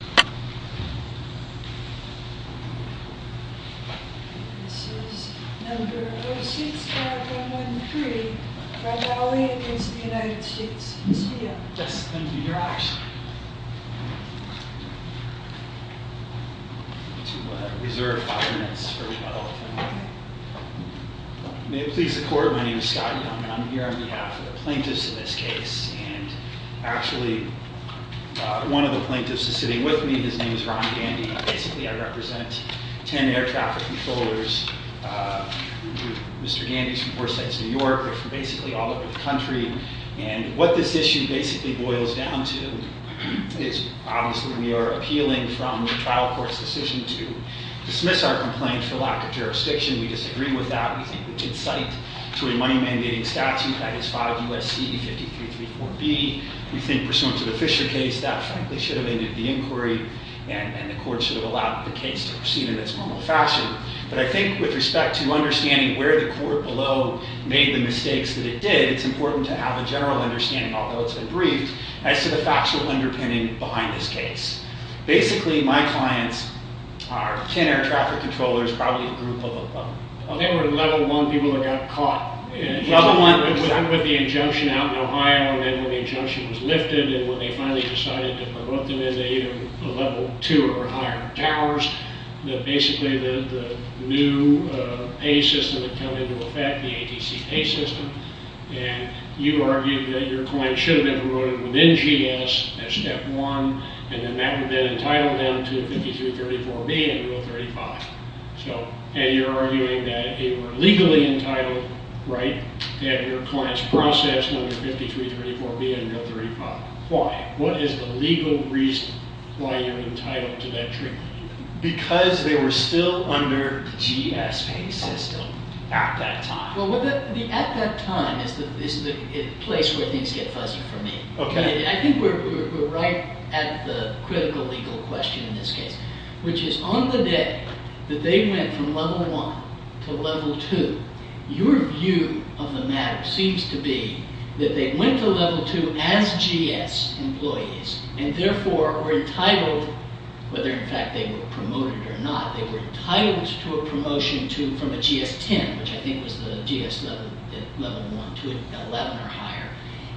This is No. 06-5113, Brodowy v. United States. Yes, thank you for your action. To reserve five minutes for rebuttal. May it please the Court, my name is Scott Young and I'm here on behalf of the plaintiffs in this case. And actually, one of the plaintiffs is sitting with me. His name is Ron Gandy. Basically, I represent ten air traffic controllers. Mr. Gandy's from Foresight's New York. They're from basically all over the country. And what this issue basically boils down to is obviously we are appealing from the trial court's decision to dismiss our complaint for lack of jurisdiction. We disagree with that. We think we did cite to a money-mandating statute, that is 5 U.S.C. 5334B. We think pursuant to the Fisher case, that frankly should have ended the inquiry and the court should have allowed the case to proceed in its normal fashion. But I think with respect to understanding where the court below made the mistakes that it did, it's important to have a general understanding, although it's been briefed, as to the factual underpinning behind this case. Basically, my clients are ten air traffic controllers, probably a group of them. I think we're at a level one people that got caught. Level one with the injunction out in Ohio, and then when the injunction was lifted and when they finally decided to put them into either a level two or higher towers, that basically the new pay system had come into effect, the ATC pay system. And you argued that your clients should have been promoted within GS as step one, and then that would have been entitled them to 5334B and Rule 35. And you're arguing that they were legally entitled, right, to have their clients processed under 5334B and Rule 35. Why? What is the legal reason why you're entitled to that treatment? Because they were still under the GS pay system at that time. Well, at that time is the place where things get fuzzy for me. Okay. I think we're right at the critical legal question in this case, which is on the day that they went from level one to level two, your view of the matter seems to be that they went to level two as GS employees and therefore were entitled, whether in fact they were promoted or not, they were entitled to a promotion from a GS 10, which I think was the GS level one to an 11 or higher,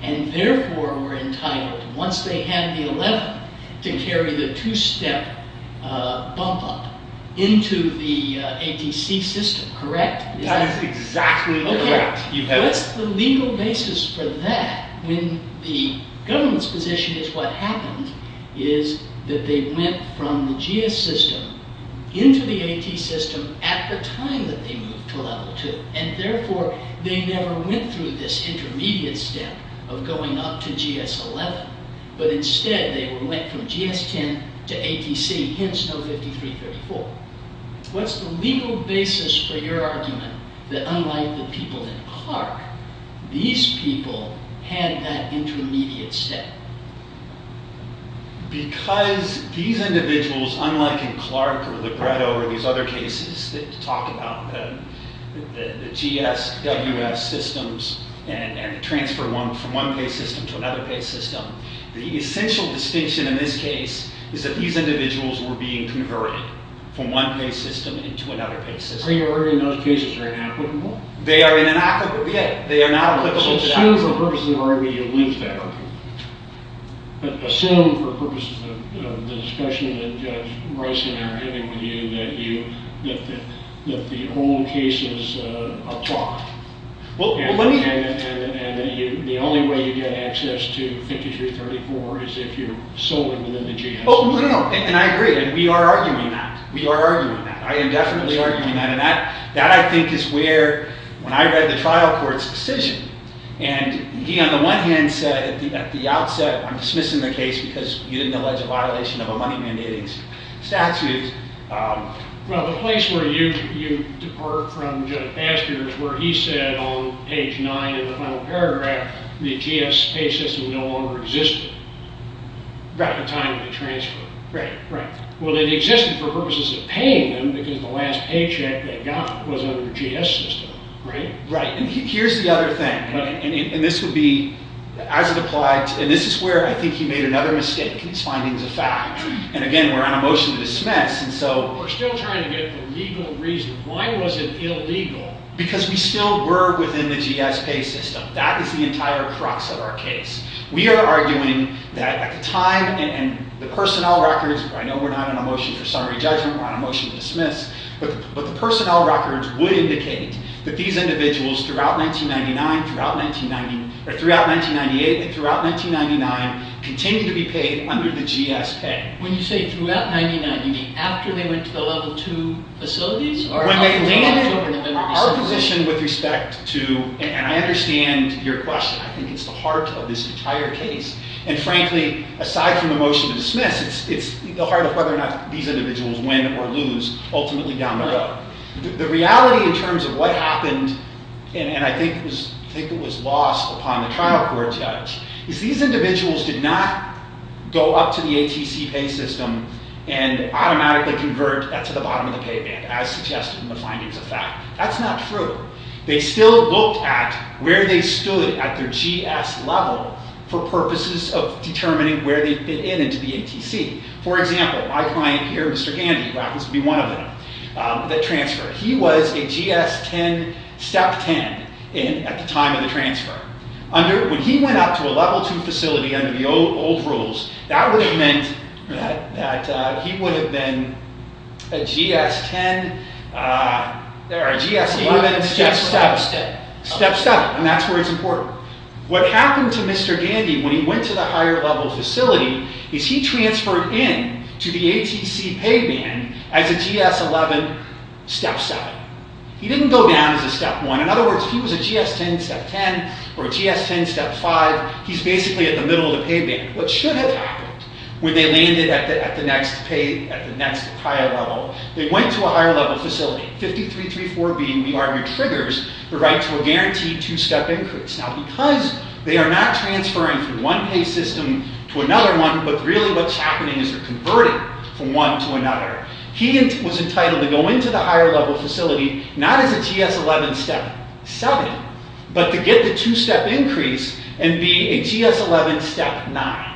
and therefore were entitled, once they had the 11, to carry the two-step bump up into the ATC system, correct? That is exactly correct. What's the legal basis for that when the government's position is what happened is that they went from the GS system into the AT system at the time that they moved to level two, and therefore they never went through this intermediate step of going up to GS 11, but instead they went from GS 10 to ATC, hence no 5334. What's the legal basis for your argument that unlike the people in Clark, these people had that intermediate step? Because these individuals, unlike in Clark or Libretto or these other cases that talk about the GSWS systems and the transfer from one pay system to another pay system, the essential distinction in this case is that these individuals were being converted from one pay system into another pay system. Are you arguing those cases are inapplicable? They are in inapplicable. Okay. They are not applicable to that. Assume for purposes of argument you lose that argument. Assume for purposes of the discussion that Judge Bryson and I are having with you that the old cases apply. And the only way you get access to 5334 is if you're solely within the GS system. Oh, no, no. And I agree. We are arguing that. We are arguing that. I am definitely arguing that. And that I think is where when I read the trial court's decision, and he on the one hand said at the outset, I'm dismissing the case because you didn't allege a violation of a money mandating statute. Well, the place where you heard from Judge Baxter is where he said on page 9 in the final paragraph, the GS pay system no longer existed at the time of the transfer. Right, right. Well, it existed for purposes of paying them because the last paycheck they got was under the GS system, right? Right. And here's the other thing, and this would be, as it applied, and this is where I think he made another mistake. This finding is a fact. And, again, we're on a motion to dismiss. We're still trying to get the legal reason. Why was it illegal? Because we still were within the GS pay system. That is the entire crux of our case. We are arguing that at the time, and the personnel records, I know we're not on a motion for summary judgment. We're on a motion to dismiss. But the personnel records would indicate that these individuals throughout 1999, throughout 1998, and throughout 1999, continued to be paid under the GS pay. When you say throughout 1999, you mean after they went to the level 2 facilities? When they landed, our position with respect to, and I understand your question, I think it's the heart of this entire case. And, frankly, aside from the motion to dismiss, it's the heart of whether or not these individuals win or lose, ultimately down the road. The reality in terms of what happened, and I think it was lost upon the trial court judge, is these individuals did not go up to the ATC pay system and automatically convert to the bottom of the pay band, as suggested in the findings of fact. That's not true. They still looked at where they stood at their GS level for purposes of determining where they fit in into the ATC. For example, my client here, Mr. Gandy, who happens to be one of them, that transferred. He was a GS 10, step 10 at the time of the transfer. When he went up to a level 2 facility under the old rules, that would have meant that he would have been a GS 10, or a GS 11, step 7. And that's where it's important. What happened to Mr. Gandy when he went to the higher level facility is he transferred in to the ATC pay band as a GS 11, step 7. He didn't go down as a step 1. In other words, if he was a GS 10, step 10, or a GS 10, step 5, he's basically at the middle of the pay band. What should have happened when they landed at the next higher level, they went to a higher level facility, 53.34 being the arm that triggers the right to a guaranteed 2-step increase. Now, because they are not transferring from one pay system to another one, but really what's happening is they're converting from one to another, he was entitled to go into the higher level facility, not as a GS 11, step 7, but to get the 2-step increase and be a GS 11, step 9.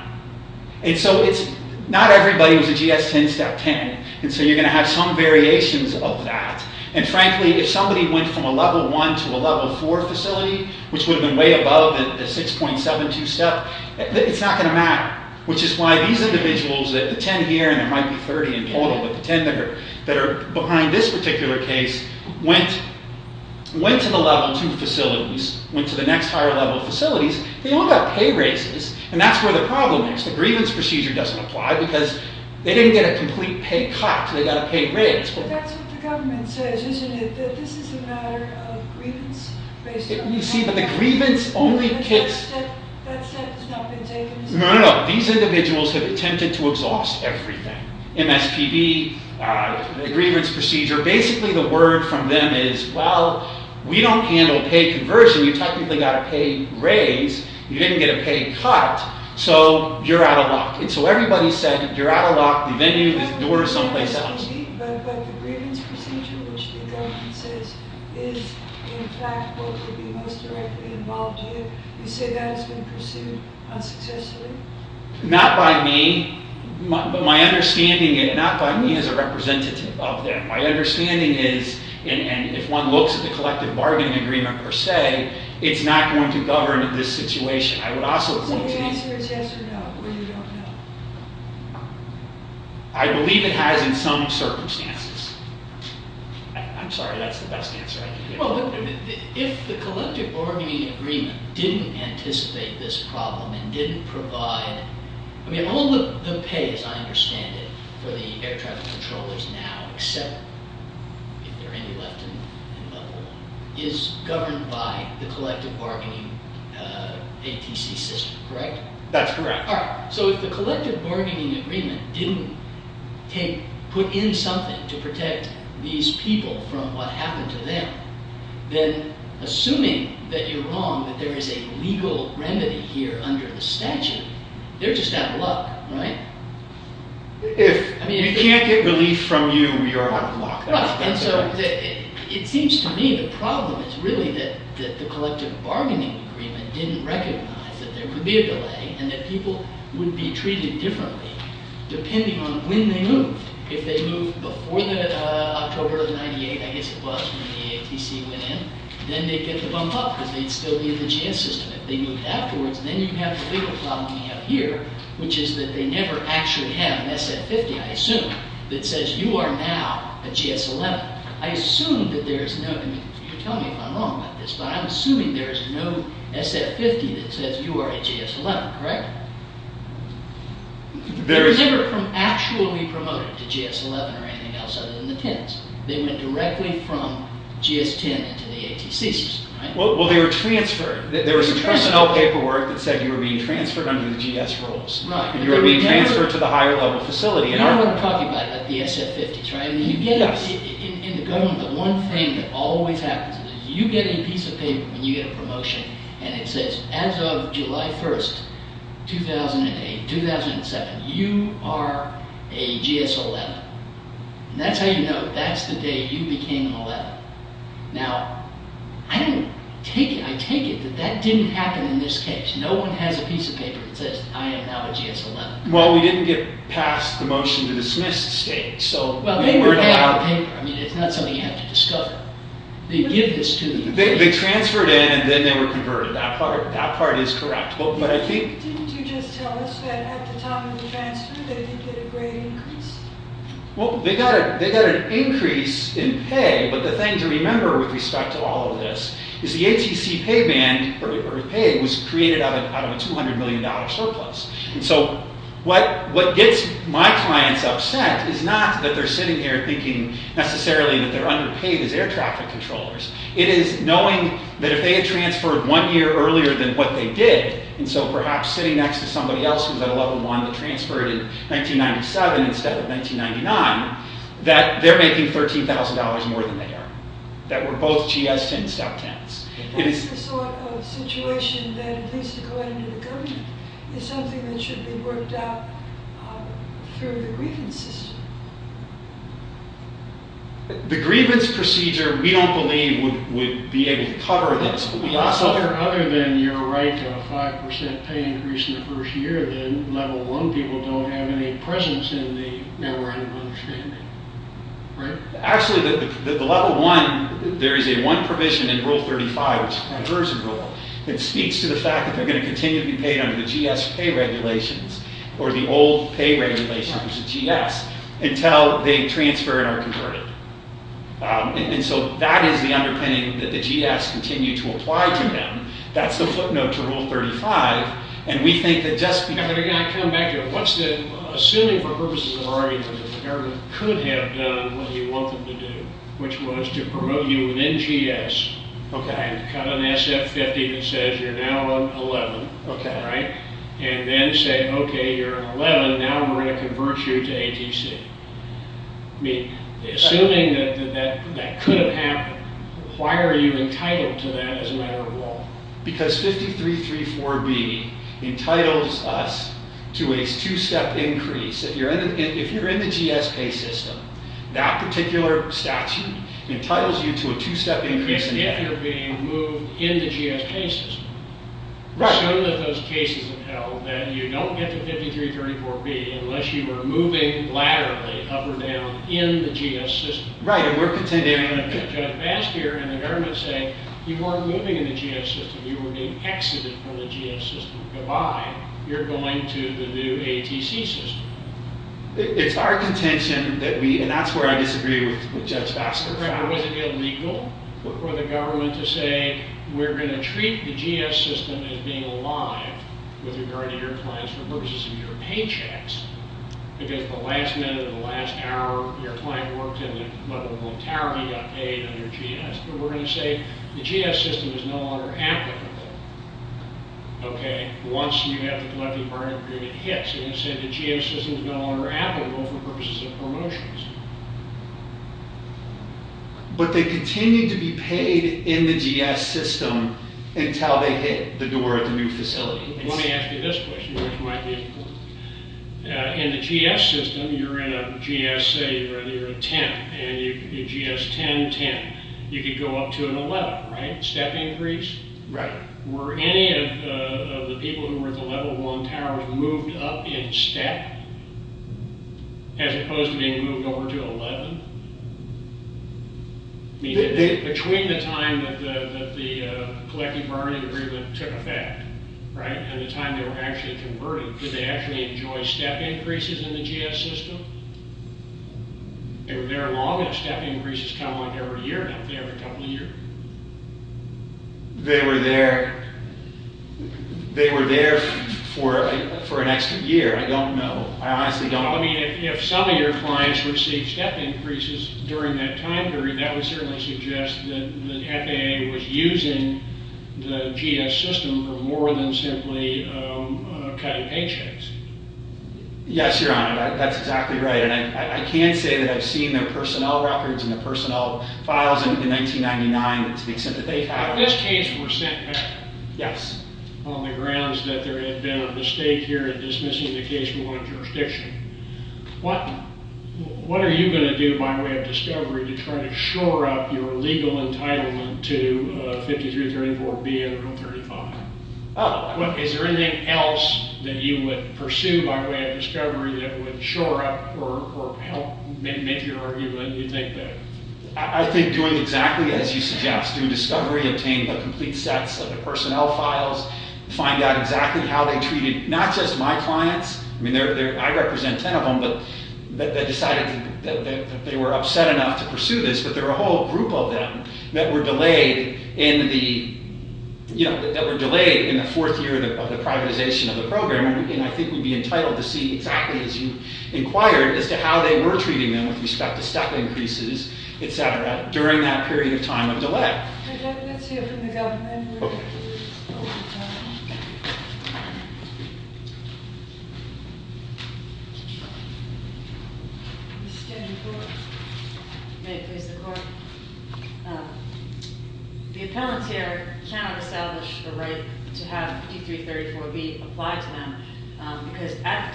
Not everybody was a GS 10, step 10, and so you're going to have some variations of that. And frankly, if somebody went from a level 1 to a level 4 facility, which would have been way above the 6.72 step, it's not going to matter. Which is why these individuals, the 10 here, and there might be 30 in total, but the 10 that are behind this particular case, went to the level 2 facilities, went to the next higher level facilities, they all got pay raises. And that's where the problem is. The grievance procedure doesn't apply because they didn't get a complete pay cut, they got a pay raise. But that's what the government says, isn't it? That this is a matter of grievance? You see, but the grievance only kicks... That step has not been taken? No, no, no. These individuals have attempted to exhaust everything. MSPB, the grievance procedure, basically the word from them is, well, we don't handle pay conversion, you technically got a pay raise, you didn't get a pay cut, so you're out of luck. And so everybody said, you're out of luck, the venue, the door is someplace else. But the grievance procedure, which the government says is in fact what would be most directly involved here, you say that has been pursued unsuccessfully? Not by me, but my understanding, not by me as a representative of them. My understanding is, and if one looks at the collective bargaining agreement per se, it's not going to govern this situation. I would also point to... So the answer is yes or no, or you don't know? I believe it has in some circumstances. I'm sorry, that's the best answer I can give. Well, if the collective bargaining agreement didn't anticipate this problem and didn't provide... I mean, all the pay, as I understand it, for the air traffic controllers now, except if there are any left in Buffalo, is governed by the collective bargaining ATC system, correct? That's correct. All right, so if the collective bargaining agreement didn't put in something to protect these people from what happened to them, then assuming that you're wrong, that there is a legal remedy here under the statute, they're just out of luck, right? If we can't get relief from you, we are out of luck. And so it seems to me the problem is really that the collective bargaining agreement didn't recognize that there would be a delay and that people would be treated differently depending on when they moved. If they moved before the October of 1998, I guess it was, when the ATC went in, then they'd get the bump up because they'd still be in the GS system. If they moved afterwards, then you have the legal problem we have here, which is that they never actually have an SF-50, I assume, that says you are now a GS-11. I assume that there is no... I mean, you can tell me if I'm wrong about this, but I'm assuming there is no SF-50 that says you are a GS-11, correct? They never actually promoted to GS-11 or anything else other than the 10s. They went directly from GS-10 into the ATC system, right? Well, they were transferred. There was personnel paperwork that said you were being transferred under the GS roles. Right. You were being transferred to the higher level facility. You know what I'm talking about, the SF-50s, right? Yes. In the government, the one thing that always happens is you get a piece of paper when you get a promotion, and it says, as of July 1st, 2008, 2007, you are a GS-11. And that's how you know that's the day you became an 11. Now, I take it that that didn't happen in this case. No one has a piece of paper that says, I am now a GS-11. Well, we didn't get past the motion to dismiss the state, so... Well, they prepared the paper. I mean, it's not something you have to discover. They give this to the... They transferred in, and then they were converted. That part is correct. But I think... Didn't you just tell us that at the time of the transfer, they did get a great increase? Well, they got an increase in pay, but the thing to remember with respect to all of this is the ATC pay band, or pay, was created out of a $200 million surplus. And so what gets my clients upset is not that they're sitting here thinking necessarily that they're underpaid as air traffic controllers. It is knowing that if they had transferred one year earlier than what they did, and so perhaps sitting next to somebody else who's at a level one that transferred in 1997 instead of 1999, that they're making $13,000 more than they are. That we're both GS-10 step-tens. That's the sort of situation that, at least according to the government, is something that should be worked out through the grievance system. The grievance procedure, we don't believe, would be able to cover this. Other than your right to a 5% pay increase in the first year, then level one people don't have any presence in the network of understanding, right? Actually, the level one, there is a one provision in Rule 35, which is a conversion rule, that speaks to the fact that they're going to continue to be paid under the GS pay regulations, or the old pay regulations of GS, until they transfer and are converted. And so that is the underpinning that the GS continue to apply to them. That's the footnote to Rule 35, and we think that just because... But again, I come back to what's the... Assuming for purposes of argument that the government could have done what you want them to do, which was to promote you within GS, and cut an SF-50 that says you're now on 11, and then say, okay, you're on 11, now we're going to convert you to ATC. I mean, assuming that that could have happened, why are you entitled to that as a matter of law? Because 5334B entitles us to a two-step increase. If you're in the GS pay system, that particular statute entitles you to a two-step increase. If you're being moved in the GS pay system. Some of those cases entail that you don't get to 5334B unless you are moving laterally, up or down, in the GS system. Right, and we're contending... And I'm going to cut you off fast here, and the government's saying, you weren't moving in the GS system, you were being exited from the GS system. Goodbye, you're going to the new ATC system. It's our contention that we... And that's where I disagree with Judge Baxter. It wasn't illegal for the government to say, we're going to treat the GS system as being alive with regard to your clients for purposes of your paychecks, because the last minute or the last hour, your client worked and the level of monetarity got paid under GS. But we're going to say, the GS system is no longer applicable. Okay, once you have the collective bargaining agreement hits, the GS system is no longer applicable for purposes of promotions. But they continue to be paid in the GS system until they hit the door of the new facility. Let me ask you this question, which might be important. In the GS system, you're in a GS, say, you're in a tent, and you're GS 10-10. You could go up to an 11, right? Step increase? Right. Were any of the people who were at the level one towers moved up in step, as opposed to being moved over to 11? Between the time that the collective bargaining agreement took effect, right, and the time they were actually converted, did they actually enjoy step increases in the GS system? They were there long, and step increases come like every year, not every couple of years. They were there for an extra year. I don't know. I honestly don't know. I mean, if some of your clients received step increases during that time period, that would certainly suggest that the FAA was using the GS system for more than simply cutting paychecks. Yes, Your Honor, that's exactly right. And I can say that I've seen their personnel records and their personnel files in 1999, to the extent that they have. This case was sent back. Yes. On the grounds that there had been a mistake here in dismissing the case from one jurisdiction. What are you going to do by way of discovery to try to shore up your legal entitlement to 5334B under Rule 35? Is there anything else that you would pursue by way of discovery that would shore up or help make your argument? I think doing exactly as you suggest, doing discovery, obtaining the complete sets of the personnel files, find out exactly how they treated not just my clients. I mean, I represent ten of them, but they decided that they were upset enough to pursue this, but there were a whole group of them that were delayed in the fourth year of the privatization of the program, and I think we'd be entitled to see exactly, as you inquired, as to how they were treating them with respect to stuff increases, etc., during that period of time of delay. I'd like to get to you from the government. Okay. May it please the Court. The appellant here cannot establish the right to have 5334B applied to them, because at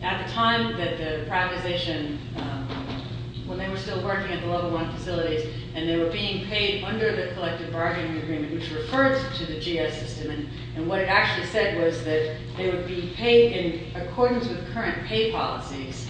the time that the privatization, when they were still working at the level one facilities, and they were being paid under the collective bargaining agreement, which refers to the GI system, and what it actually said was that they would be paid in accordance with current pay policies,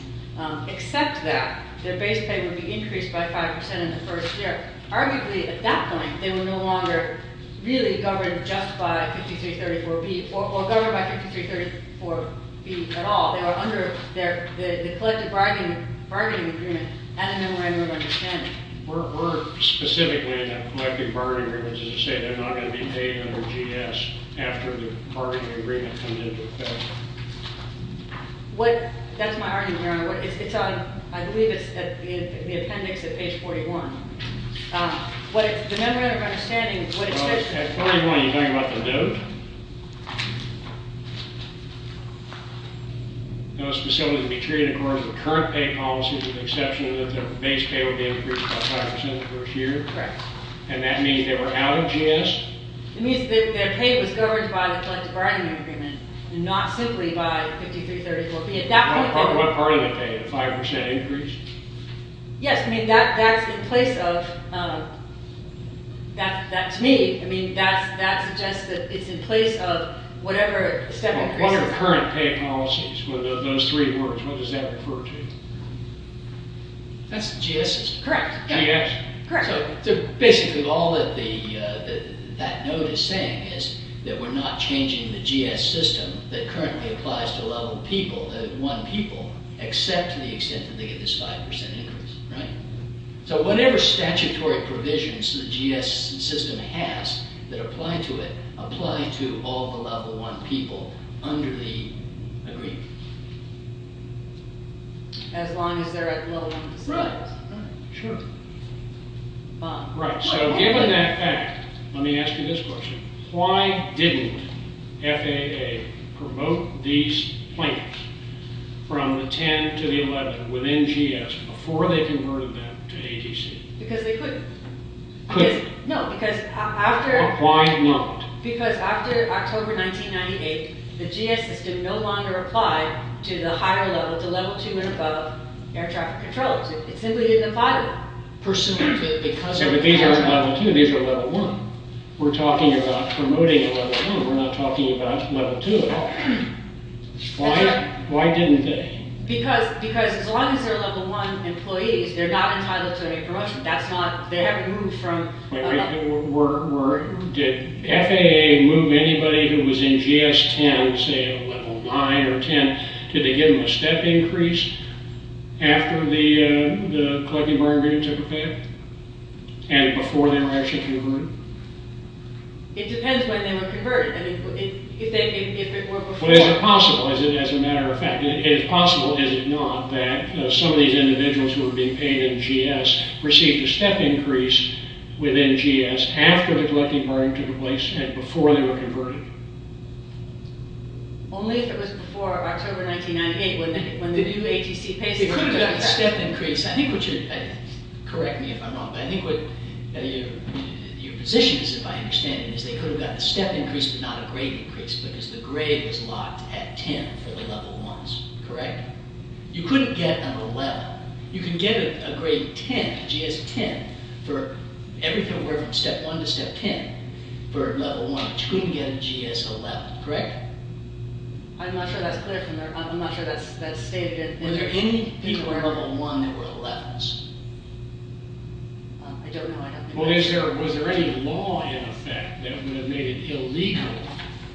except that their base pay would be increased by 5% in the first year. Arguably, at that point, they were no longer really governed just by 5334B, or governed by 5334B at all. They were under the collective bargaining agreement at a memorandum of understanding. We're specifically in a collective bargaining agreement to say they're not going to be paid under GS That's my argument, Your Honor. I believe it's in the appendix at page 41. The memorandum of understanding... At 41, you're talking about the note. Those facilities would be treated in accordance with current pay policies with the exception that their base pay would be increased by 5% in the first year. Correct. And that means they were out of GS? It means that their pay was governed by the collective bargaining agreement, not simply by 5334B. What part of the pay, the 5% increase? Yes, I mean, that's in place of... That's me. I mean, that suggests that it's in place of whatever... What are current pay policies? Those three words, what does that refer to? That's the GS system. Correct. Basically, all that note is saying is that we're not changing the GS system that currently applies to level 1 people except to the extent that they get this 5% increase. Right? So whatever statutory provisions the GS system has that apply to it, apply to all the level 1 people under the agreement. As long as they're at level 1 facilities. Right. Sure. Bob? Right, so given that fact, let me ask you this question. Why didn't FAA promote these plans from the 10 to the 11 within GS before they converted them to ATC? Because they couldn't. Couldn't? No, because after... Why not? Because after October 1998, the GS system no longer applied to the higher level, to level 2 and above air traffic controllers. It simply didn't apply to them. Pursuant to... But these aren't level 2, these are level 1. We're talking about promoting a level 1. We're not talking about level 2 at all. Why didn't they? Because as long as they're level 1 employees, they're not entitled to any promotion. That's not... They haven't moved from... Wait, wait. Did FAA move anybody who was in GS 10, say a level 9 or 10, did they give them a step increase after the collecting bargaining took effect and before they were actually converted? It depends when they were converted. I mean, if they were before... But is it possible, as a matter of fact, is it possible, is it not, that some of these individuals who were being paid in GS received a step increase within GS after the collecting bargaining took place and before they were converted? Only if it was before October 1998, when the new ATC pays... It couldn't have been a step increase. I think what you're... Correct me if I'm wrong, but I think what your position is, if I understand it, is they could have gotten a step increase but not a grade increase because the grade was locked at 10 for the level 1s. Correct? You couldn't get an 11. You can get a grade 10, GS 10, for everything from step 1 to step 10 for level 1, but you couldn't get a GS 11. Correct? I'm not sure that's clear from there. I'm not sure that's stated in... Were there any people in level 1 that were 11s? I don't know. Well, was there any law in effect that would have made it illegal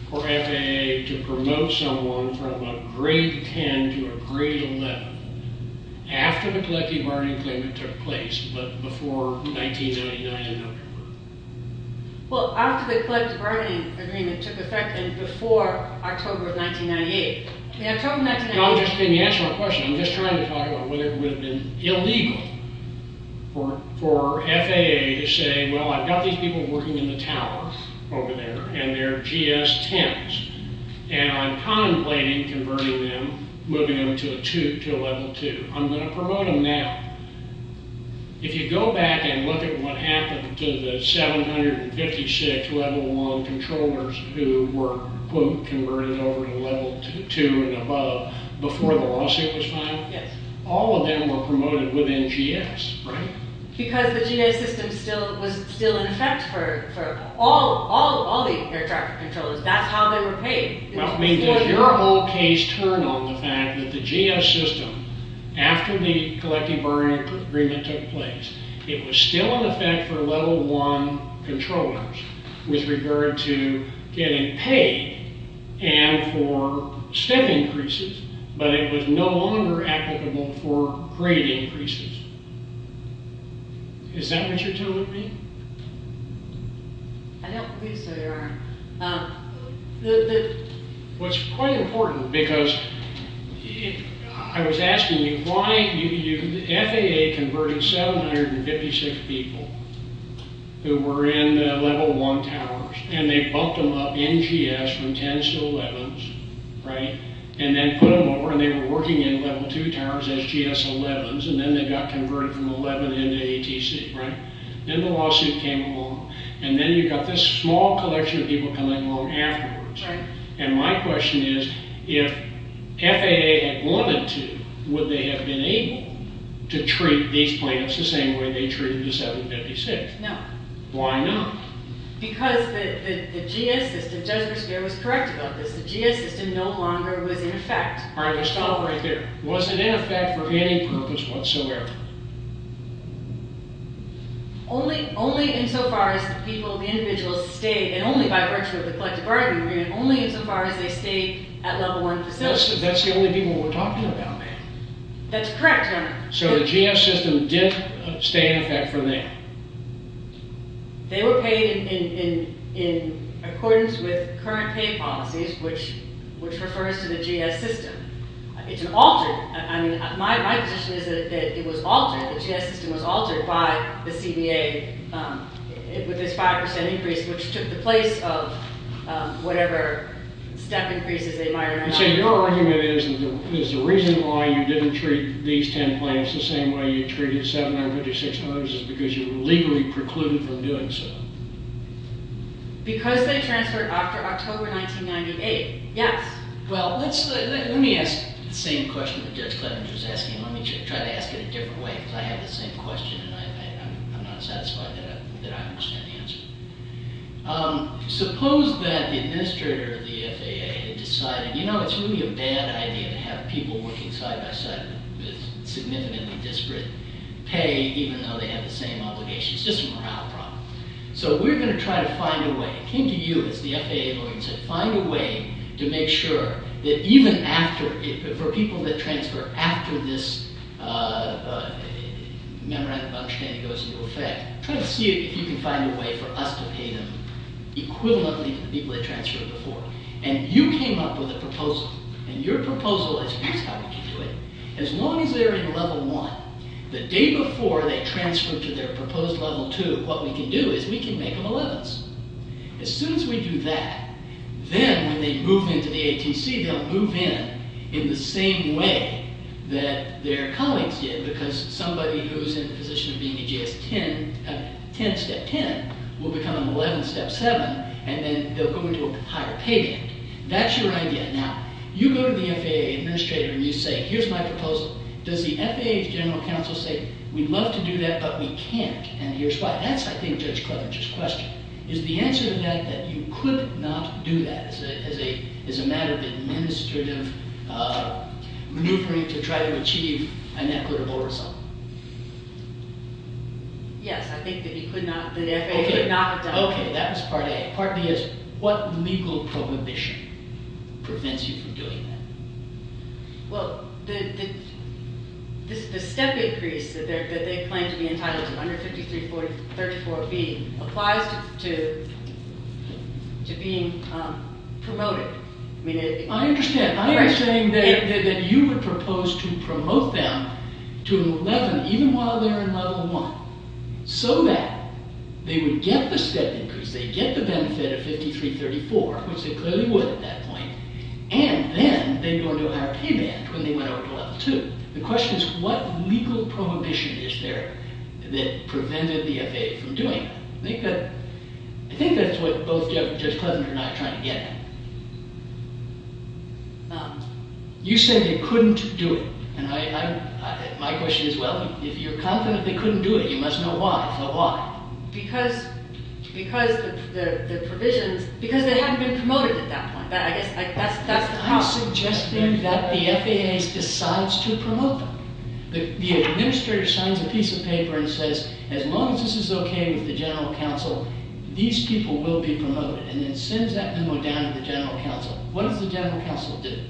for FAA to promote someone from a grade 10 to a grade 11 after the collecting bargaining agreement took place but before 1999? Well, after the collecting bargaining agreement took effect and before October of 1998... Can you answer my question? I'm just trying to talk about whether it would have been illegal for FAA to say, well, I've got these people working in the tower over there, and they're GS 10s, and I'm contemplating converting them, moving them to a level 2. I'm going to promote them now. If you go back and look at what happened to the 756 level 1 controllers who were, quote, converted over to level 2 and above before the lawsuit was filed, all of them were promoted within GS, right? Because the GS system was still in effect for all the air traffic controllers. That's how they were paid. Does your whole case turn on the fact that the GS system, after the collecting bargaining agreement took place, it was still in effect for level 1 controllers with regard to getting paid and for step increases, but it was no longer applicable for grade increases? Is that what you're telling me? I don't believe so, Your Honor. What's quite important, because I was asking you why FAA converted 756 people who were in the level 1 towers, and they bumped them up in GS from 10s to 11s, right? And then put them over, and they were working in level 2 towers as GS 11s, and then they got converted from 11 into ATC, right? Then the lawsuit came along, and then you got this small collection of people coming along afterwards, and my question is, if FAA had wanted to, would they have been able to treat these plaintiffs the same way they treated the 756? No. Why not? Because the GS system, Judge Breshear was correct about this, the GS system no longer was in effect. All right, let's stop right there. Was it in effect for any purpose whatsoever? Only insofar as the people, the individuals, stayed, and only by virtue of the collective bargaining agreement, only insofar as they stayed at level 1 facilities. That's the only people we're talking about, ma'am. That's correct, Your Honor. So the GS system did stay in effect from then? They were paid in accordance with current pay policies, which refers to the GS system. It's an altered, I mean, my position is that it was altered, the GS system was altered by the CBA, with this 5% increase, which took the place of whatever step increases they might have had. So your argument is, is the reason why you didn't treat these 10 plans the same way you treated 756 others is because you were legally precluded from doing so? Because they transferred after October 1998. Yes. Well, let's, let me ask the same question that Judge Clevens was asking. Let me try to ask it a different way, because I have the same question, and I'm not satisfied that I understand the answer. Suppose that the administrator of the FAA had decided, you know, it's really a bad idea to have people working side-by-side with significantly disparate pay, even though they have the same obligations. It's just a morale problem. So we're going to try to find a way. It came to you, as the FAA lawyer said, find a way to make sure that even after, for people that transfer after this memorandum of understanding goes into effect, try to see if you can find a way for us to pay them equivalently to the people that transferred before. And you came up with a proposal, and your proposal is how we can do it. As long as they're in Level 1, the day before they transfer to their proposed Level 2, what we can do is we can make them 11s. As soon as we do that, then when they move into the ATC, they'll move in in the same way that their colleagues did, because somebody who's in the position of being a GS-10, 10, Step 10, will become an 11, Step 7, and then they'll go into a higher pay band. That's your idea. Now, you go to the FAA administrator, and you say, here's my proposal. Does the FAA's general counsel say, we'd love to do that, but we can't, and here's why. That's, I think, Judge Cleverger's question. Is the answer to that that you could not do that as a matter of administrative maneuvering to try to achieve an equitable result? Yes, I think that you could not, that the FAA could not have done that. Okay, that was part A. Part B is, what legal prohibition prevents you from doing that? Well, the step increase that they claim to be entitled to under 5334B applies to being promoted. I understand. I am saying that you would propose to promote them to an 11, even while they're in Level 1, so that they would get the step increase, they'd get the benefit of 5334, which they clearly would at that point, and then they'd go into a higher pay band when they went over to Level 2. The question is, what legal prohibition is there that prevented the FAA from doing that? I think that's what both Judge Pleasant and I are trying to get at. Now, you say they couldn't do it, and my question is, well, if you're confident they couldn't do it, you must know why. Tell me why. Because the provisions... Because they haven't been promoted at that point. That's the problem. I'm suggesting that the FAA decides to promote them. The administrator signs a piece of paper and says, as long as this is okay with the General Counsel, these people will be promoted, and then sends that memo down to the General Counsel. What does the General Counsel do?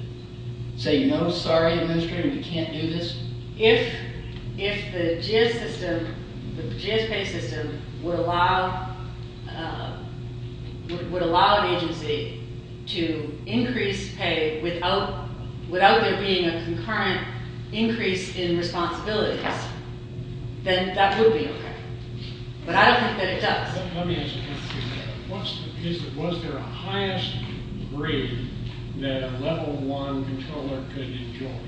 Say, no, sorry, Administrator, we can't do this? If the GS system, the GS pay system, would allow an agency to increase pay without there being a concurrent increase in responsibilities, then that would be okay. But I don't think that it does. Let me ask you this. Was there a highest grade that a Level 1 controller could enjoy?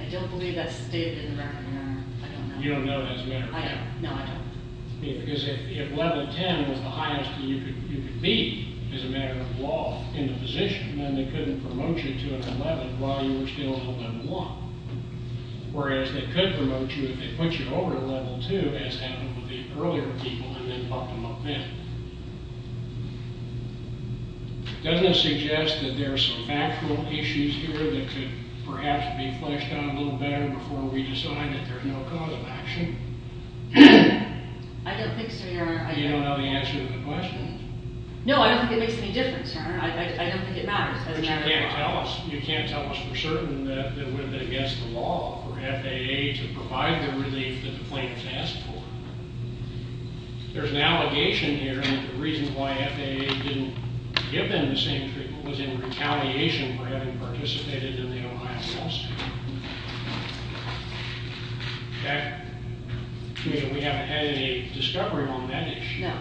I don't believe that's stated in the record, Your Honor. I don't know. You don't know that as a matter of fact? I don't. No, I don't. Because if Level 10 was the highest that you could be as a matter of law in the position, then they couldn't promote you to an 11 while you were still on Level 1. Whereas they could promote you if they put you over Level 2, as happened with the earlier people and then bumped them up then. Doesn't this suggest that there are some factual issues here that could perhaps be fleshed out a little better before we decide that there's no cause of action? I don't think so, Your Honor. You don't know the answer to the question? No, I don't think it makes any difference, Your Honor. I don't think it matters. But you can't tell us for certain that it would have been against the law for FAA to provide the relief that the plaintiffs asked for. There's an allegation here that the reason why FAA didn't give them the same treatment was in retaliation for having participated in the Ohio Solstice. We haven't had any discovery on that issue. No.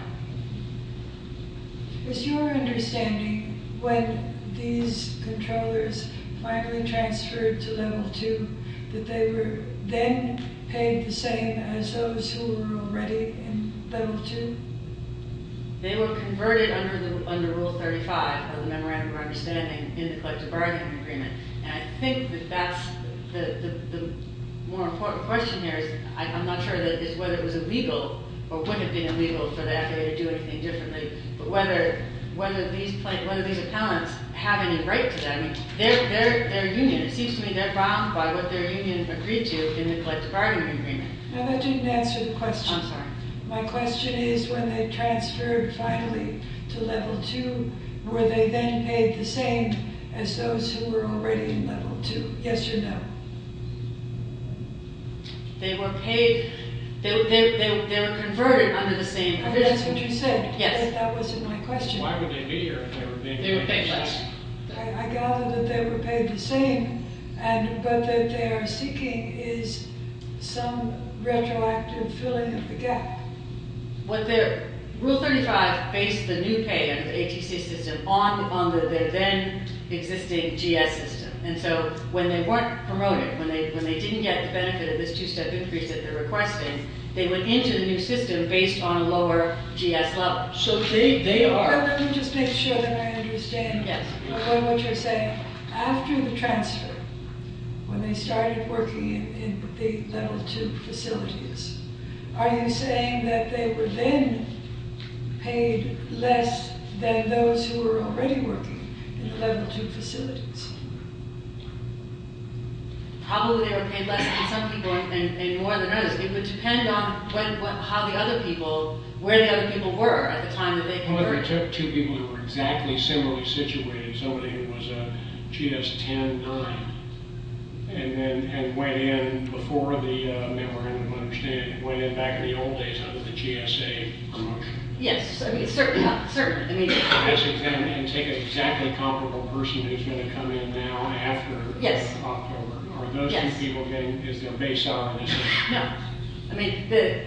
Is your understanding when these controllers finally transferred to Level 2 that they were then paid the same as those who were already in Level 2? They were converted under Rule 35 of the Memorandum of Understanding in the Collective Bargaining Agreement. And I think that that's the more important question here. I'm not sure whether it was illegal or would have been illegal for the FAA to do anything differently, but whether these appellants have any right to that. Their union, it seems to me, they're bound by what their union agreed to in the Collective Bargaining Agreement. That didn't answer the question. I'm sorry. My question is when they transferred finally to Level 2, were they then paid the same as those who were already in Level 2? Yes or no? They were paid... They were converted under the same... That's what you said. Yes. That wasn't my question. Why would they be here if they were being paid less? I gather that they were paid the same, but that they are seeking some retroactive filling of the gap. Rule 35 based the new pay under the ATC system on the then existing GS system. And so when they weren't promoted, when they didn't get the benefit of this two-step increase that they're requesting, they went into the new system based on lower GS levels. So they are... Let me just make sure that I understand what you're saying. After the transfer, when they started working in the Level 2 facilities, are you saying that they were then paid less than those who were already working in the Level 2 facilities? Probably they were paid less than some people and more than others. It would depend on how the other people... where the other people were at the time that they converted. Well, they took two people who were exactly similarly situated. Somebody who was a GS 10-9 and went in before the... I don't understand. Went in back in the old days under the GSA. Yes. Certainly. And take an exactly comparable person who's going to come in now after October. Are those two people getting... Is there a baseline? No. I mean, the...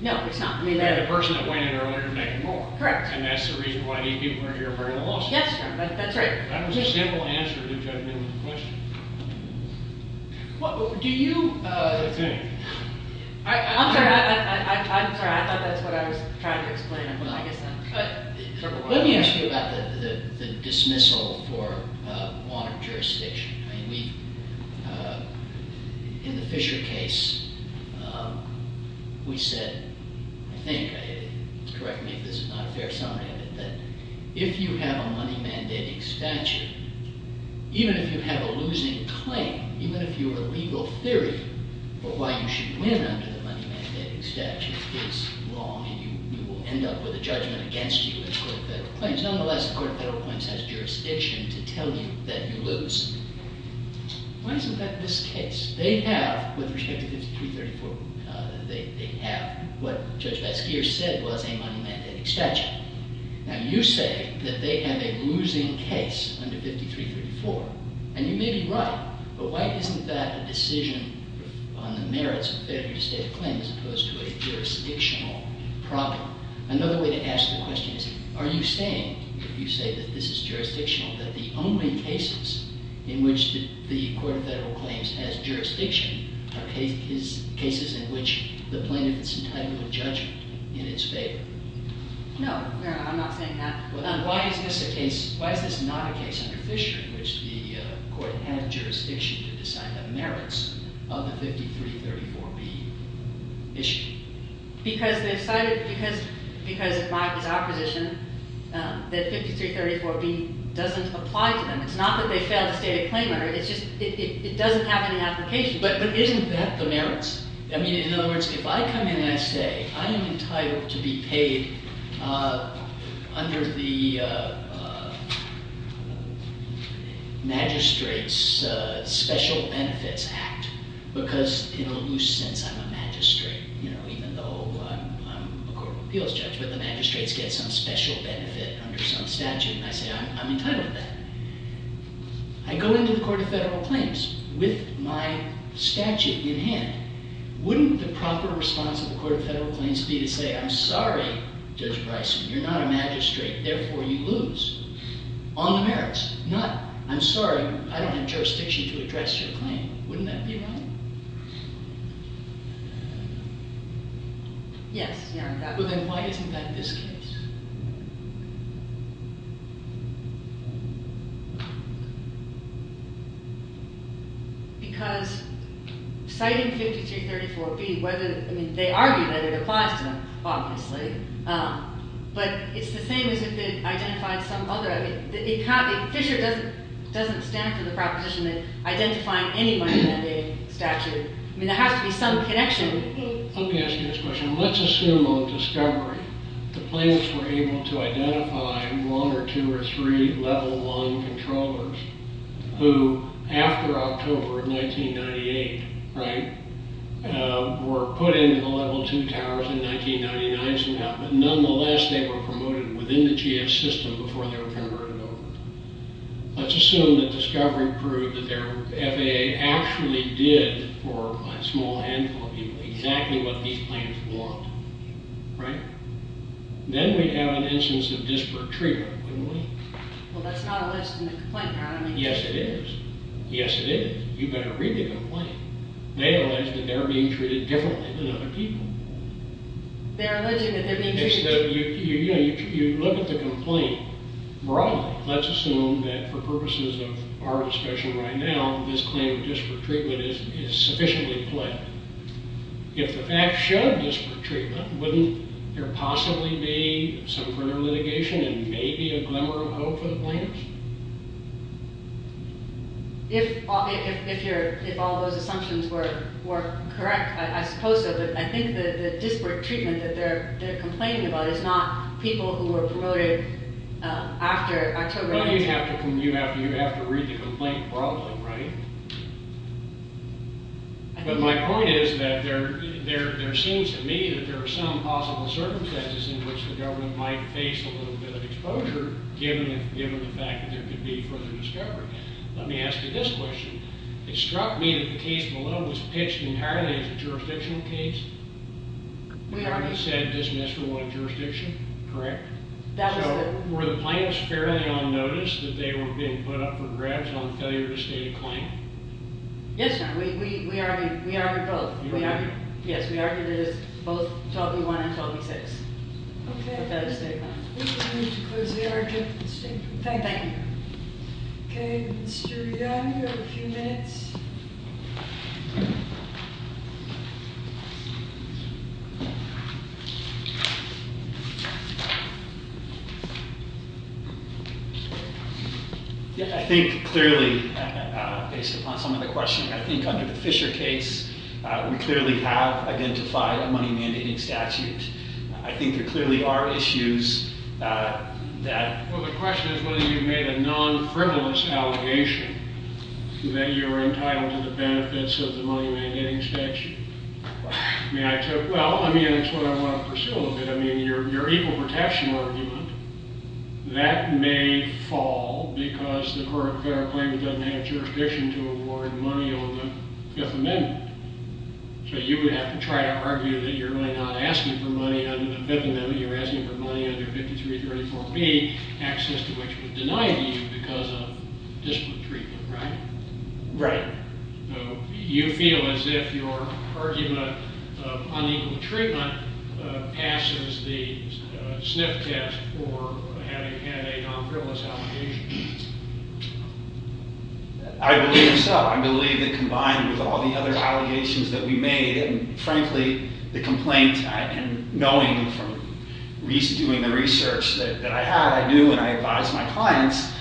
No, it's not. The person that went in earlier made more. Correct. And that's the reason why these people are here bearing the loss. Yes, sir. That's right. I don't see a general answer to your judgment of the question. Do you... What do you think? I'm sorry. I'm sorry. I thought that's what I was trying to explain. I guess I'm... Let me ask you about the dismissal for water jurisdiction. I mean, we... In the Fisher case, we said, I think, correct me if this is not a fair summary of it, that if you have a money-mandating statute, even if you have a losing claim, even if you're a legal theory of why you should win under the money-mandating statute is wrong, you will end up with a judgment against you in court of federal claims. Nonetheless, the court of federal claims has jurisdiction to tell you that you lose. Why isn't that this case? They have, with respect to 5334, they have what Judge Basquiat said was a money-mandating statute. Now, you say that they have a losing case under 5334, and you may be right, but why isn't that a decision on the merits of failure to state a claim as opposed to a jurisdictional problem? Another way to ask the question is, are you saying, if you say that this is jurisdictional, that the only cases in which the court of federal claims has jurisdiction are cases in which the plaintiff is entitled to a judgment in its favor? No, no, I'm not saying that. Well, then why is this a case, why is this not a case under Fisher in which the court had jurisdiction to decide the merits of the 5334B issue? Because they've cited, because of my, his opposition, that 5334B doesn't apply to them. It's not that they failed to state a claim, it's just it doesn't have any application. But isn't that the merits? I mean, in other words, if I come in and I say, I am entitled to be paid under the Magistrates' Special Benefits Act, because in a loose sense, I'm a magistrate, even though I'm a court of appeals judge, but the magistrates get some special benefit under some statute, and I say, I'm entitled to that. I go into the court of federal claims with my statute in hand. Wouldn't the proper response of the court of federal claims be to say, I'm sorry, Judge Bryson, you're not a magistrate, therefore you lose on the merits. Not, I'm sorry, I don't have jurisdiction to address your claim. Wouldn't that be right? Yes. But then why isn't that this case? Because citing 5334B, I mean, they argue that it applies to them, obviously. But it's the same as if it identified some other, if Fisher doesn't stand for the proposition that identifying anyone with a statute, I mean, there has to be some connection. Let me ask you this question. Let's assume on discovery the plaintiffs were able to identify one or two or three level one controllers who, after October of 1998, right, were put into the level two towers in 1999 somehow, but nonetheless they were promoted within the GS system before they were converted over. Let's assume that discovery proved that their FAA actually did for a small handful of people exactly what these plaintiffs want, right? Then we'd have an instance of disparate treatment, wouldn't we? Well, that's not a list in the complaint paradigm. Yes, it is. Yes, it is. You better read the complaint. They allege that they're being treated differently than other people. They're alleging that they're being treated... You look at the complaint broadly. Let's assume that for purposes of our discussion right now, this claim of disparate treatment is sufficiently clear. If the facts show disparate treatment, wouldn't there possibly be some further litigation and maybe a glimmer of hope for the plaintiffs? If all those assumptions were correct, I suppose so, but I think the disparate treatment that they're complaining about is not people who were promoted after October... But you have to read the complaint broadly, right? But my point is that there seems to me that there are some possible circumstances in which the government might face a little bit of exposure given the fact that there could be further discovery. Let me ask you this question. It struck me that the case below was pitched entirely as a jurisdictional case. We argued... You said dismissed for one jurisdiction, correct? That was the... So, were the plaintiffs fairly on notice that they were being put up for grabs on failure to state a claim? Yes, sir. We argued both. You argued... Yes, we argued it as both 12b-1 and 12b-6. Okay. We will move to close the argument. Thank you. Okay, Mr. Young, you have a few minutes. Yeah, I think clearly, based upon some of the questioning, I think under the Fisher case, we clearly have identified a money-mandating statute. I think there clearly are issues that... Well, the question is whether you've made a non-frivolous allegation that you're entitled to the benefits of the money-mandating statute. Right. I mean, I took... Well, I mean, that's what I want to pursue a little bit. I mean, your equal protection argument, that may fall because the current federal claimant doesn't have jurisdiction to award money on the Fifth Amendment. So you would have to try to argue that you're not asking for money under the Fifth Amendment. You're asking for money under 5334b, access to which was denied to you because of disparate treatment, right? Right. So you feel as if your argument of unequal treatment passes the sniff test for having had a non-frivolous allegation. I believe so. I believe that combined with all the other allegations that we made, and frankly, the complaint, and knowing from doing the research that I had, I knew, and I advised my clients,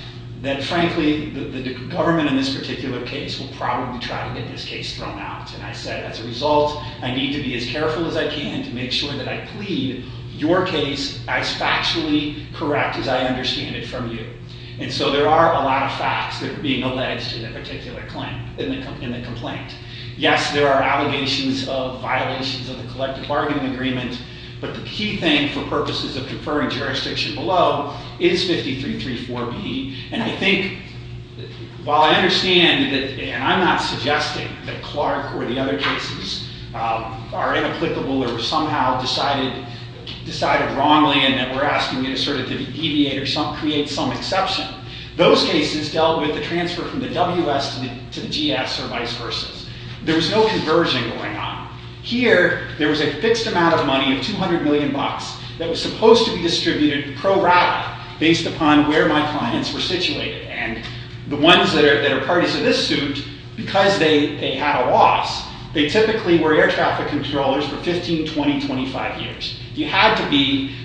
that frankly, the government in this particular case will probably try to get this case thrown out. And I said, as a result, I need to be as careful as I can to make sure that I plead your case as factually correct as I understand it from you. And so there are a lot of facts that are being alleged in a particular claim, in the complaint. Yes, there are allegations of violations of the collective bargaining agreement, but the key thing for purposes of deferring jurisdiction below is 5334b. And I think, while I understand that, and I'm not suggesting that Clark or the other cases are inapplicable or somehow decided wrongly and that we're asking you to sort of deviate or create some exception, those cases dealt with the transfer from the WS to the GS or vice versa. There was no conversion going on. Here, there was a fixed amount of money of 200 million bucks that was supposed to be distributed pro rata based upon where my clients were situated. And the ones that are parties to this suit, because they had a loss, they typically were air traffic controllers for 15, 20, 25 years. You had to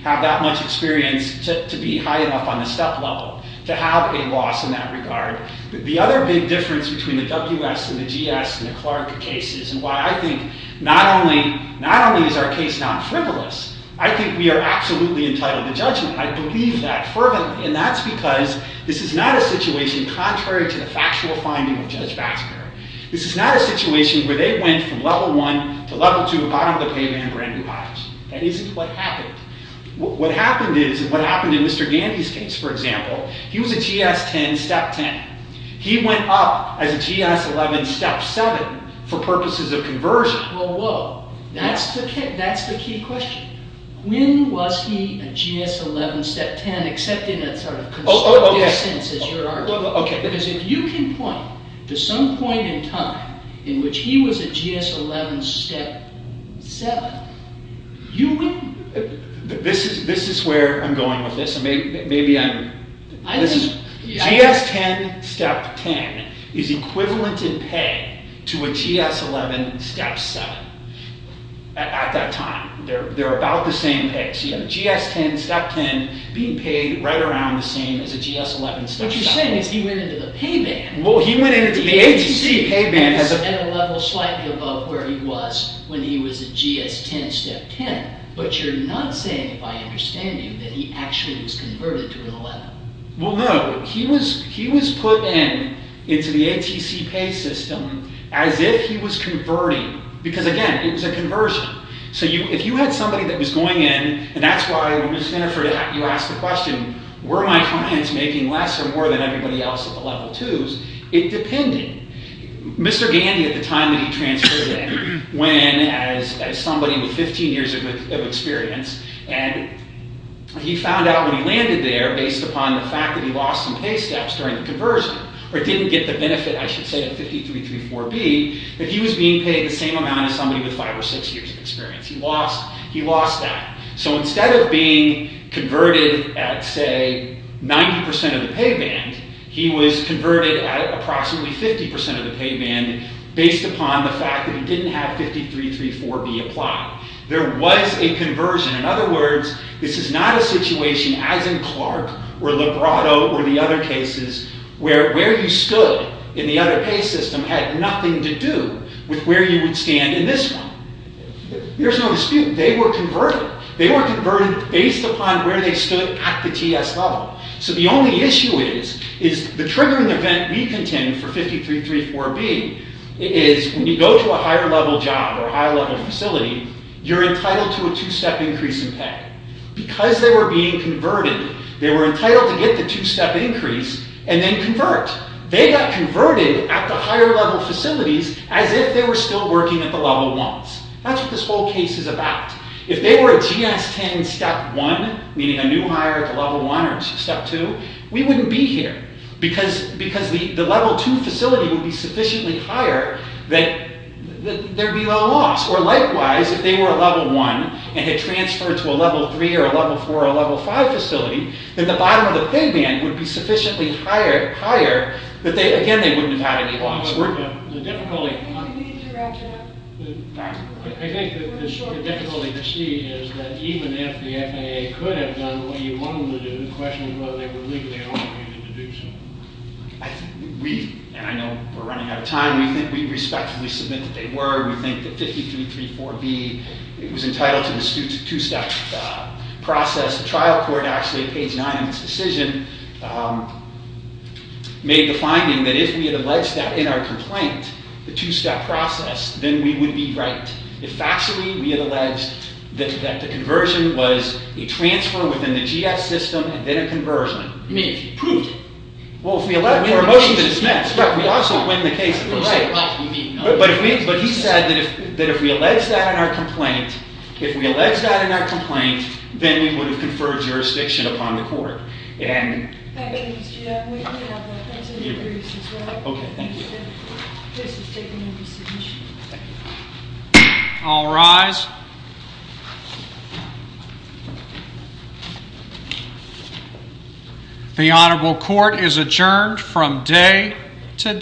have that much experience to be high enough on the step level to have a loss in that regard. The other big difference between the WS and the GS and the Clark cases and why I think not only is our case non-frivolous, I think we are absolutely entitled to judgment. I believe that fervently, and that's because this is not a situation contrary to the factual finding of Judge Basker. This is not a situation where they went from level one to level two, bottom of the pavement, and brand new bottoms. That isn't what happened. What happened is, what happened in Mr. Gandhi's case, for example, he was a GS-10, step 10. He went up as a GS-11, step 7, for purposes of conversion. Whoa, whoa. That's the key question. When was he a GS-11, step 10, except in a sort of constructed sense, as you're arguing? Because if you can point to some point in time in which he was a GS-11, step 7, you win. This is where I'm going with this. Listen. GS-10, step 10, is equivalent in pay to a GS-11, step 7. At that time. They're about the same pay. So you have a GS-10, step 10, being paid right around the same as a GS-11, step 7. What you're saying is he went into the pay band. Well, he went into the ATC pay band. At a level slightly above where he was when he was a GS-10, step 10. But you're not saying, if I understand you, that he actually was converted to a GS-11. Well, no. He was put in into the ATC pay system as if he was converting. Because, again, it was a conversion. So if you had somebody that was going in, and that's why when you ask the question, were my clients making less or more than everybody else at the level 2s, it depended. Mr. Gandy, at the time that he transferred in, when, as somebody with 15 years of experience, and he found out when he landed there, based upon the fact that he lost some pay steps during the conversion, or didn't get the benefit, I should say, of 53.34B, that he was being paid the same amount as somebody with 5 or 6 years of experience. He lost that. So instead of being converted at, say, 90% of the pay band, he was converted at approximately 50% of the pay band based upon the fact that he didn't have 53.34B applied. There was a conversion. In other words, this is not a situation, as in Clark, or Librato, or the other cases, where where you stood in the other pay system had nothing to do with where you would stand in this one. There's no dispute. They were converted. They were converted based upon where they stood at the TS level. So the only issue is, is the triggering event we contend for 53.34B is when you go to a higher level job or high level facility, you're entitled to a 2-step increase in pay. Because they were being converted, they were entitled to get the 2-step increase and then convert. They got converted at the higher level facilities as if they were still working at the level 1s. That's what this whole case is about. If they were a GS-10 Step 1, meaning a new hire at the level 1 or Step 2, we wouldn't be here. Because the level 2 facility would be sufficiently higher that there would be no loss. Or likewise, if they were a level 1 and had transferred to a level 3 or a level 4 or a level 5 facility, then the bottom of the pay band would be sufficiently higher that, again, they wouldn't have had any loss. I think the difficulty to see is that even if the FAA could have done what you want them to do, the question is whether they were legally obligated to do so. We, and I know we're running out of time, we think we respectfully submit that they were. We think that 5334B was entitled to the 2-step process. The trial court actually, page 9 of this decision, made the finding that if we had alleged that in our complaint, the 2-step process, then we would be right. If factually we had alleged that the conversion was a transfer within the GS system and then a conversion. I mean, if you proved it. Well, if we allege it, we have a motion to dismiss. We also win the case if we're right. But he said that if we alleged that in our complaint, if we alleged that in our complaint, then we would have conferred jurisdiction upon the court. Thank you, Mr. Chairman. Thank you. This is taken into submission. All rise. The Honorable Court is adjourned from day to day.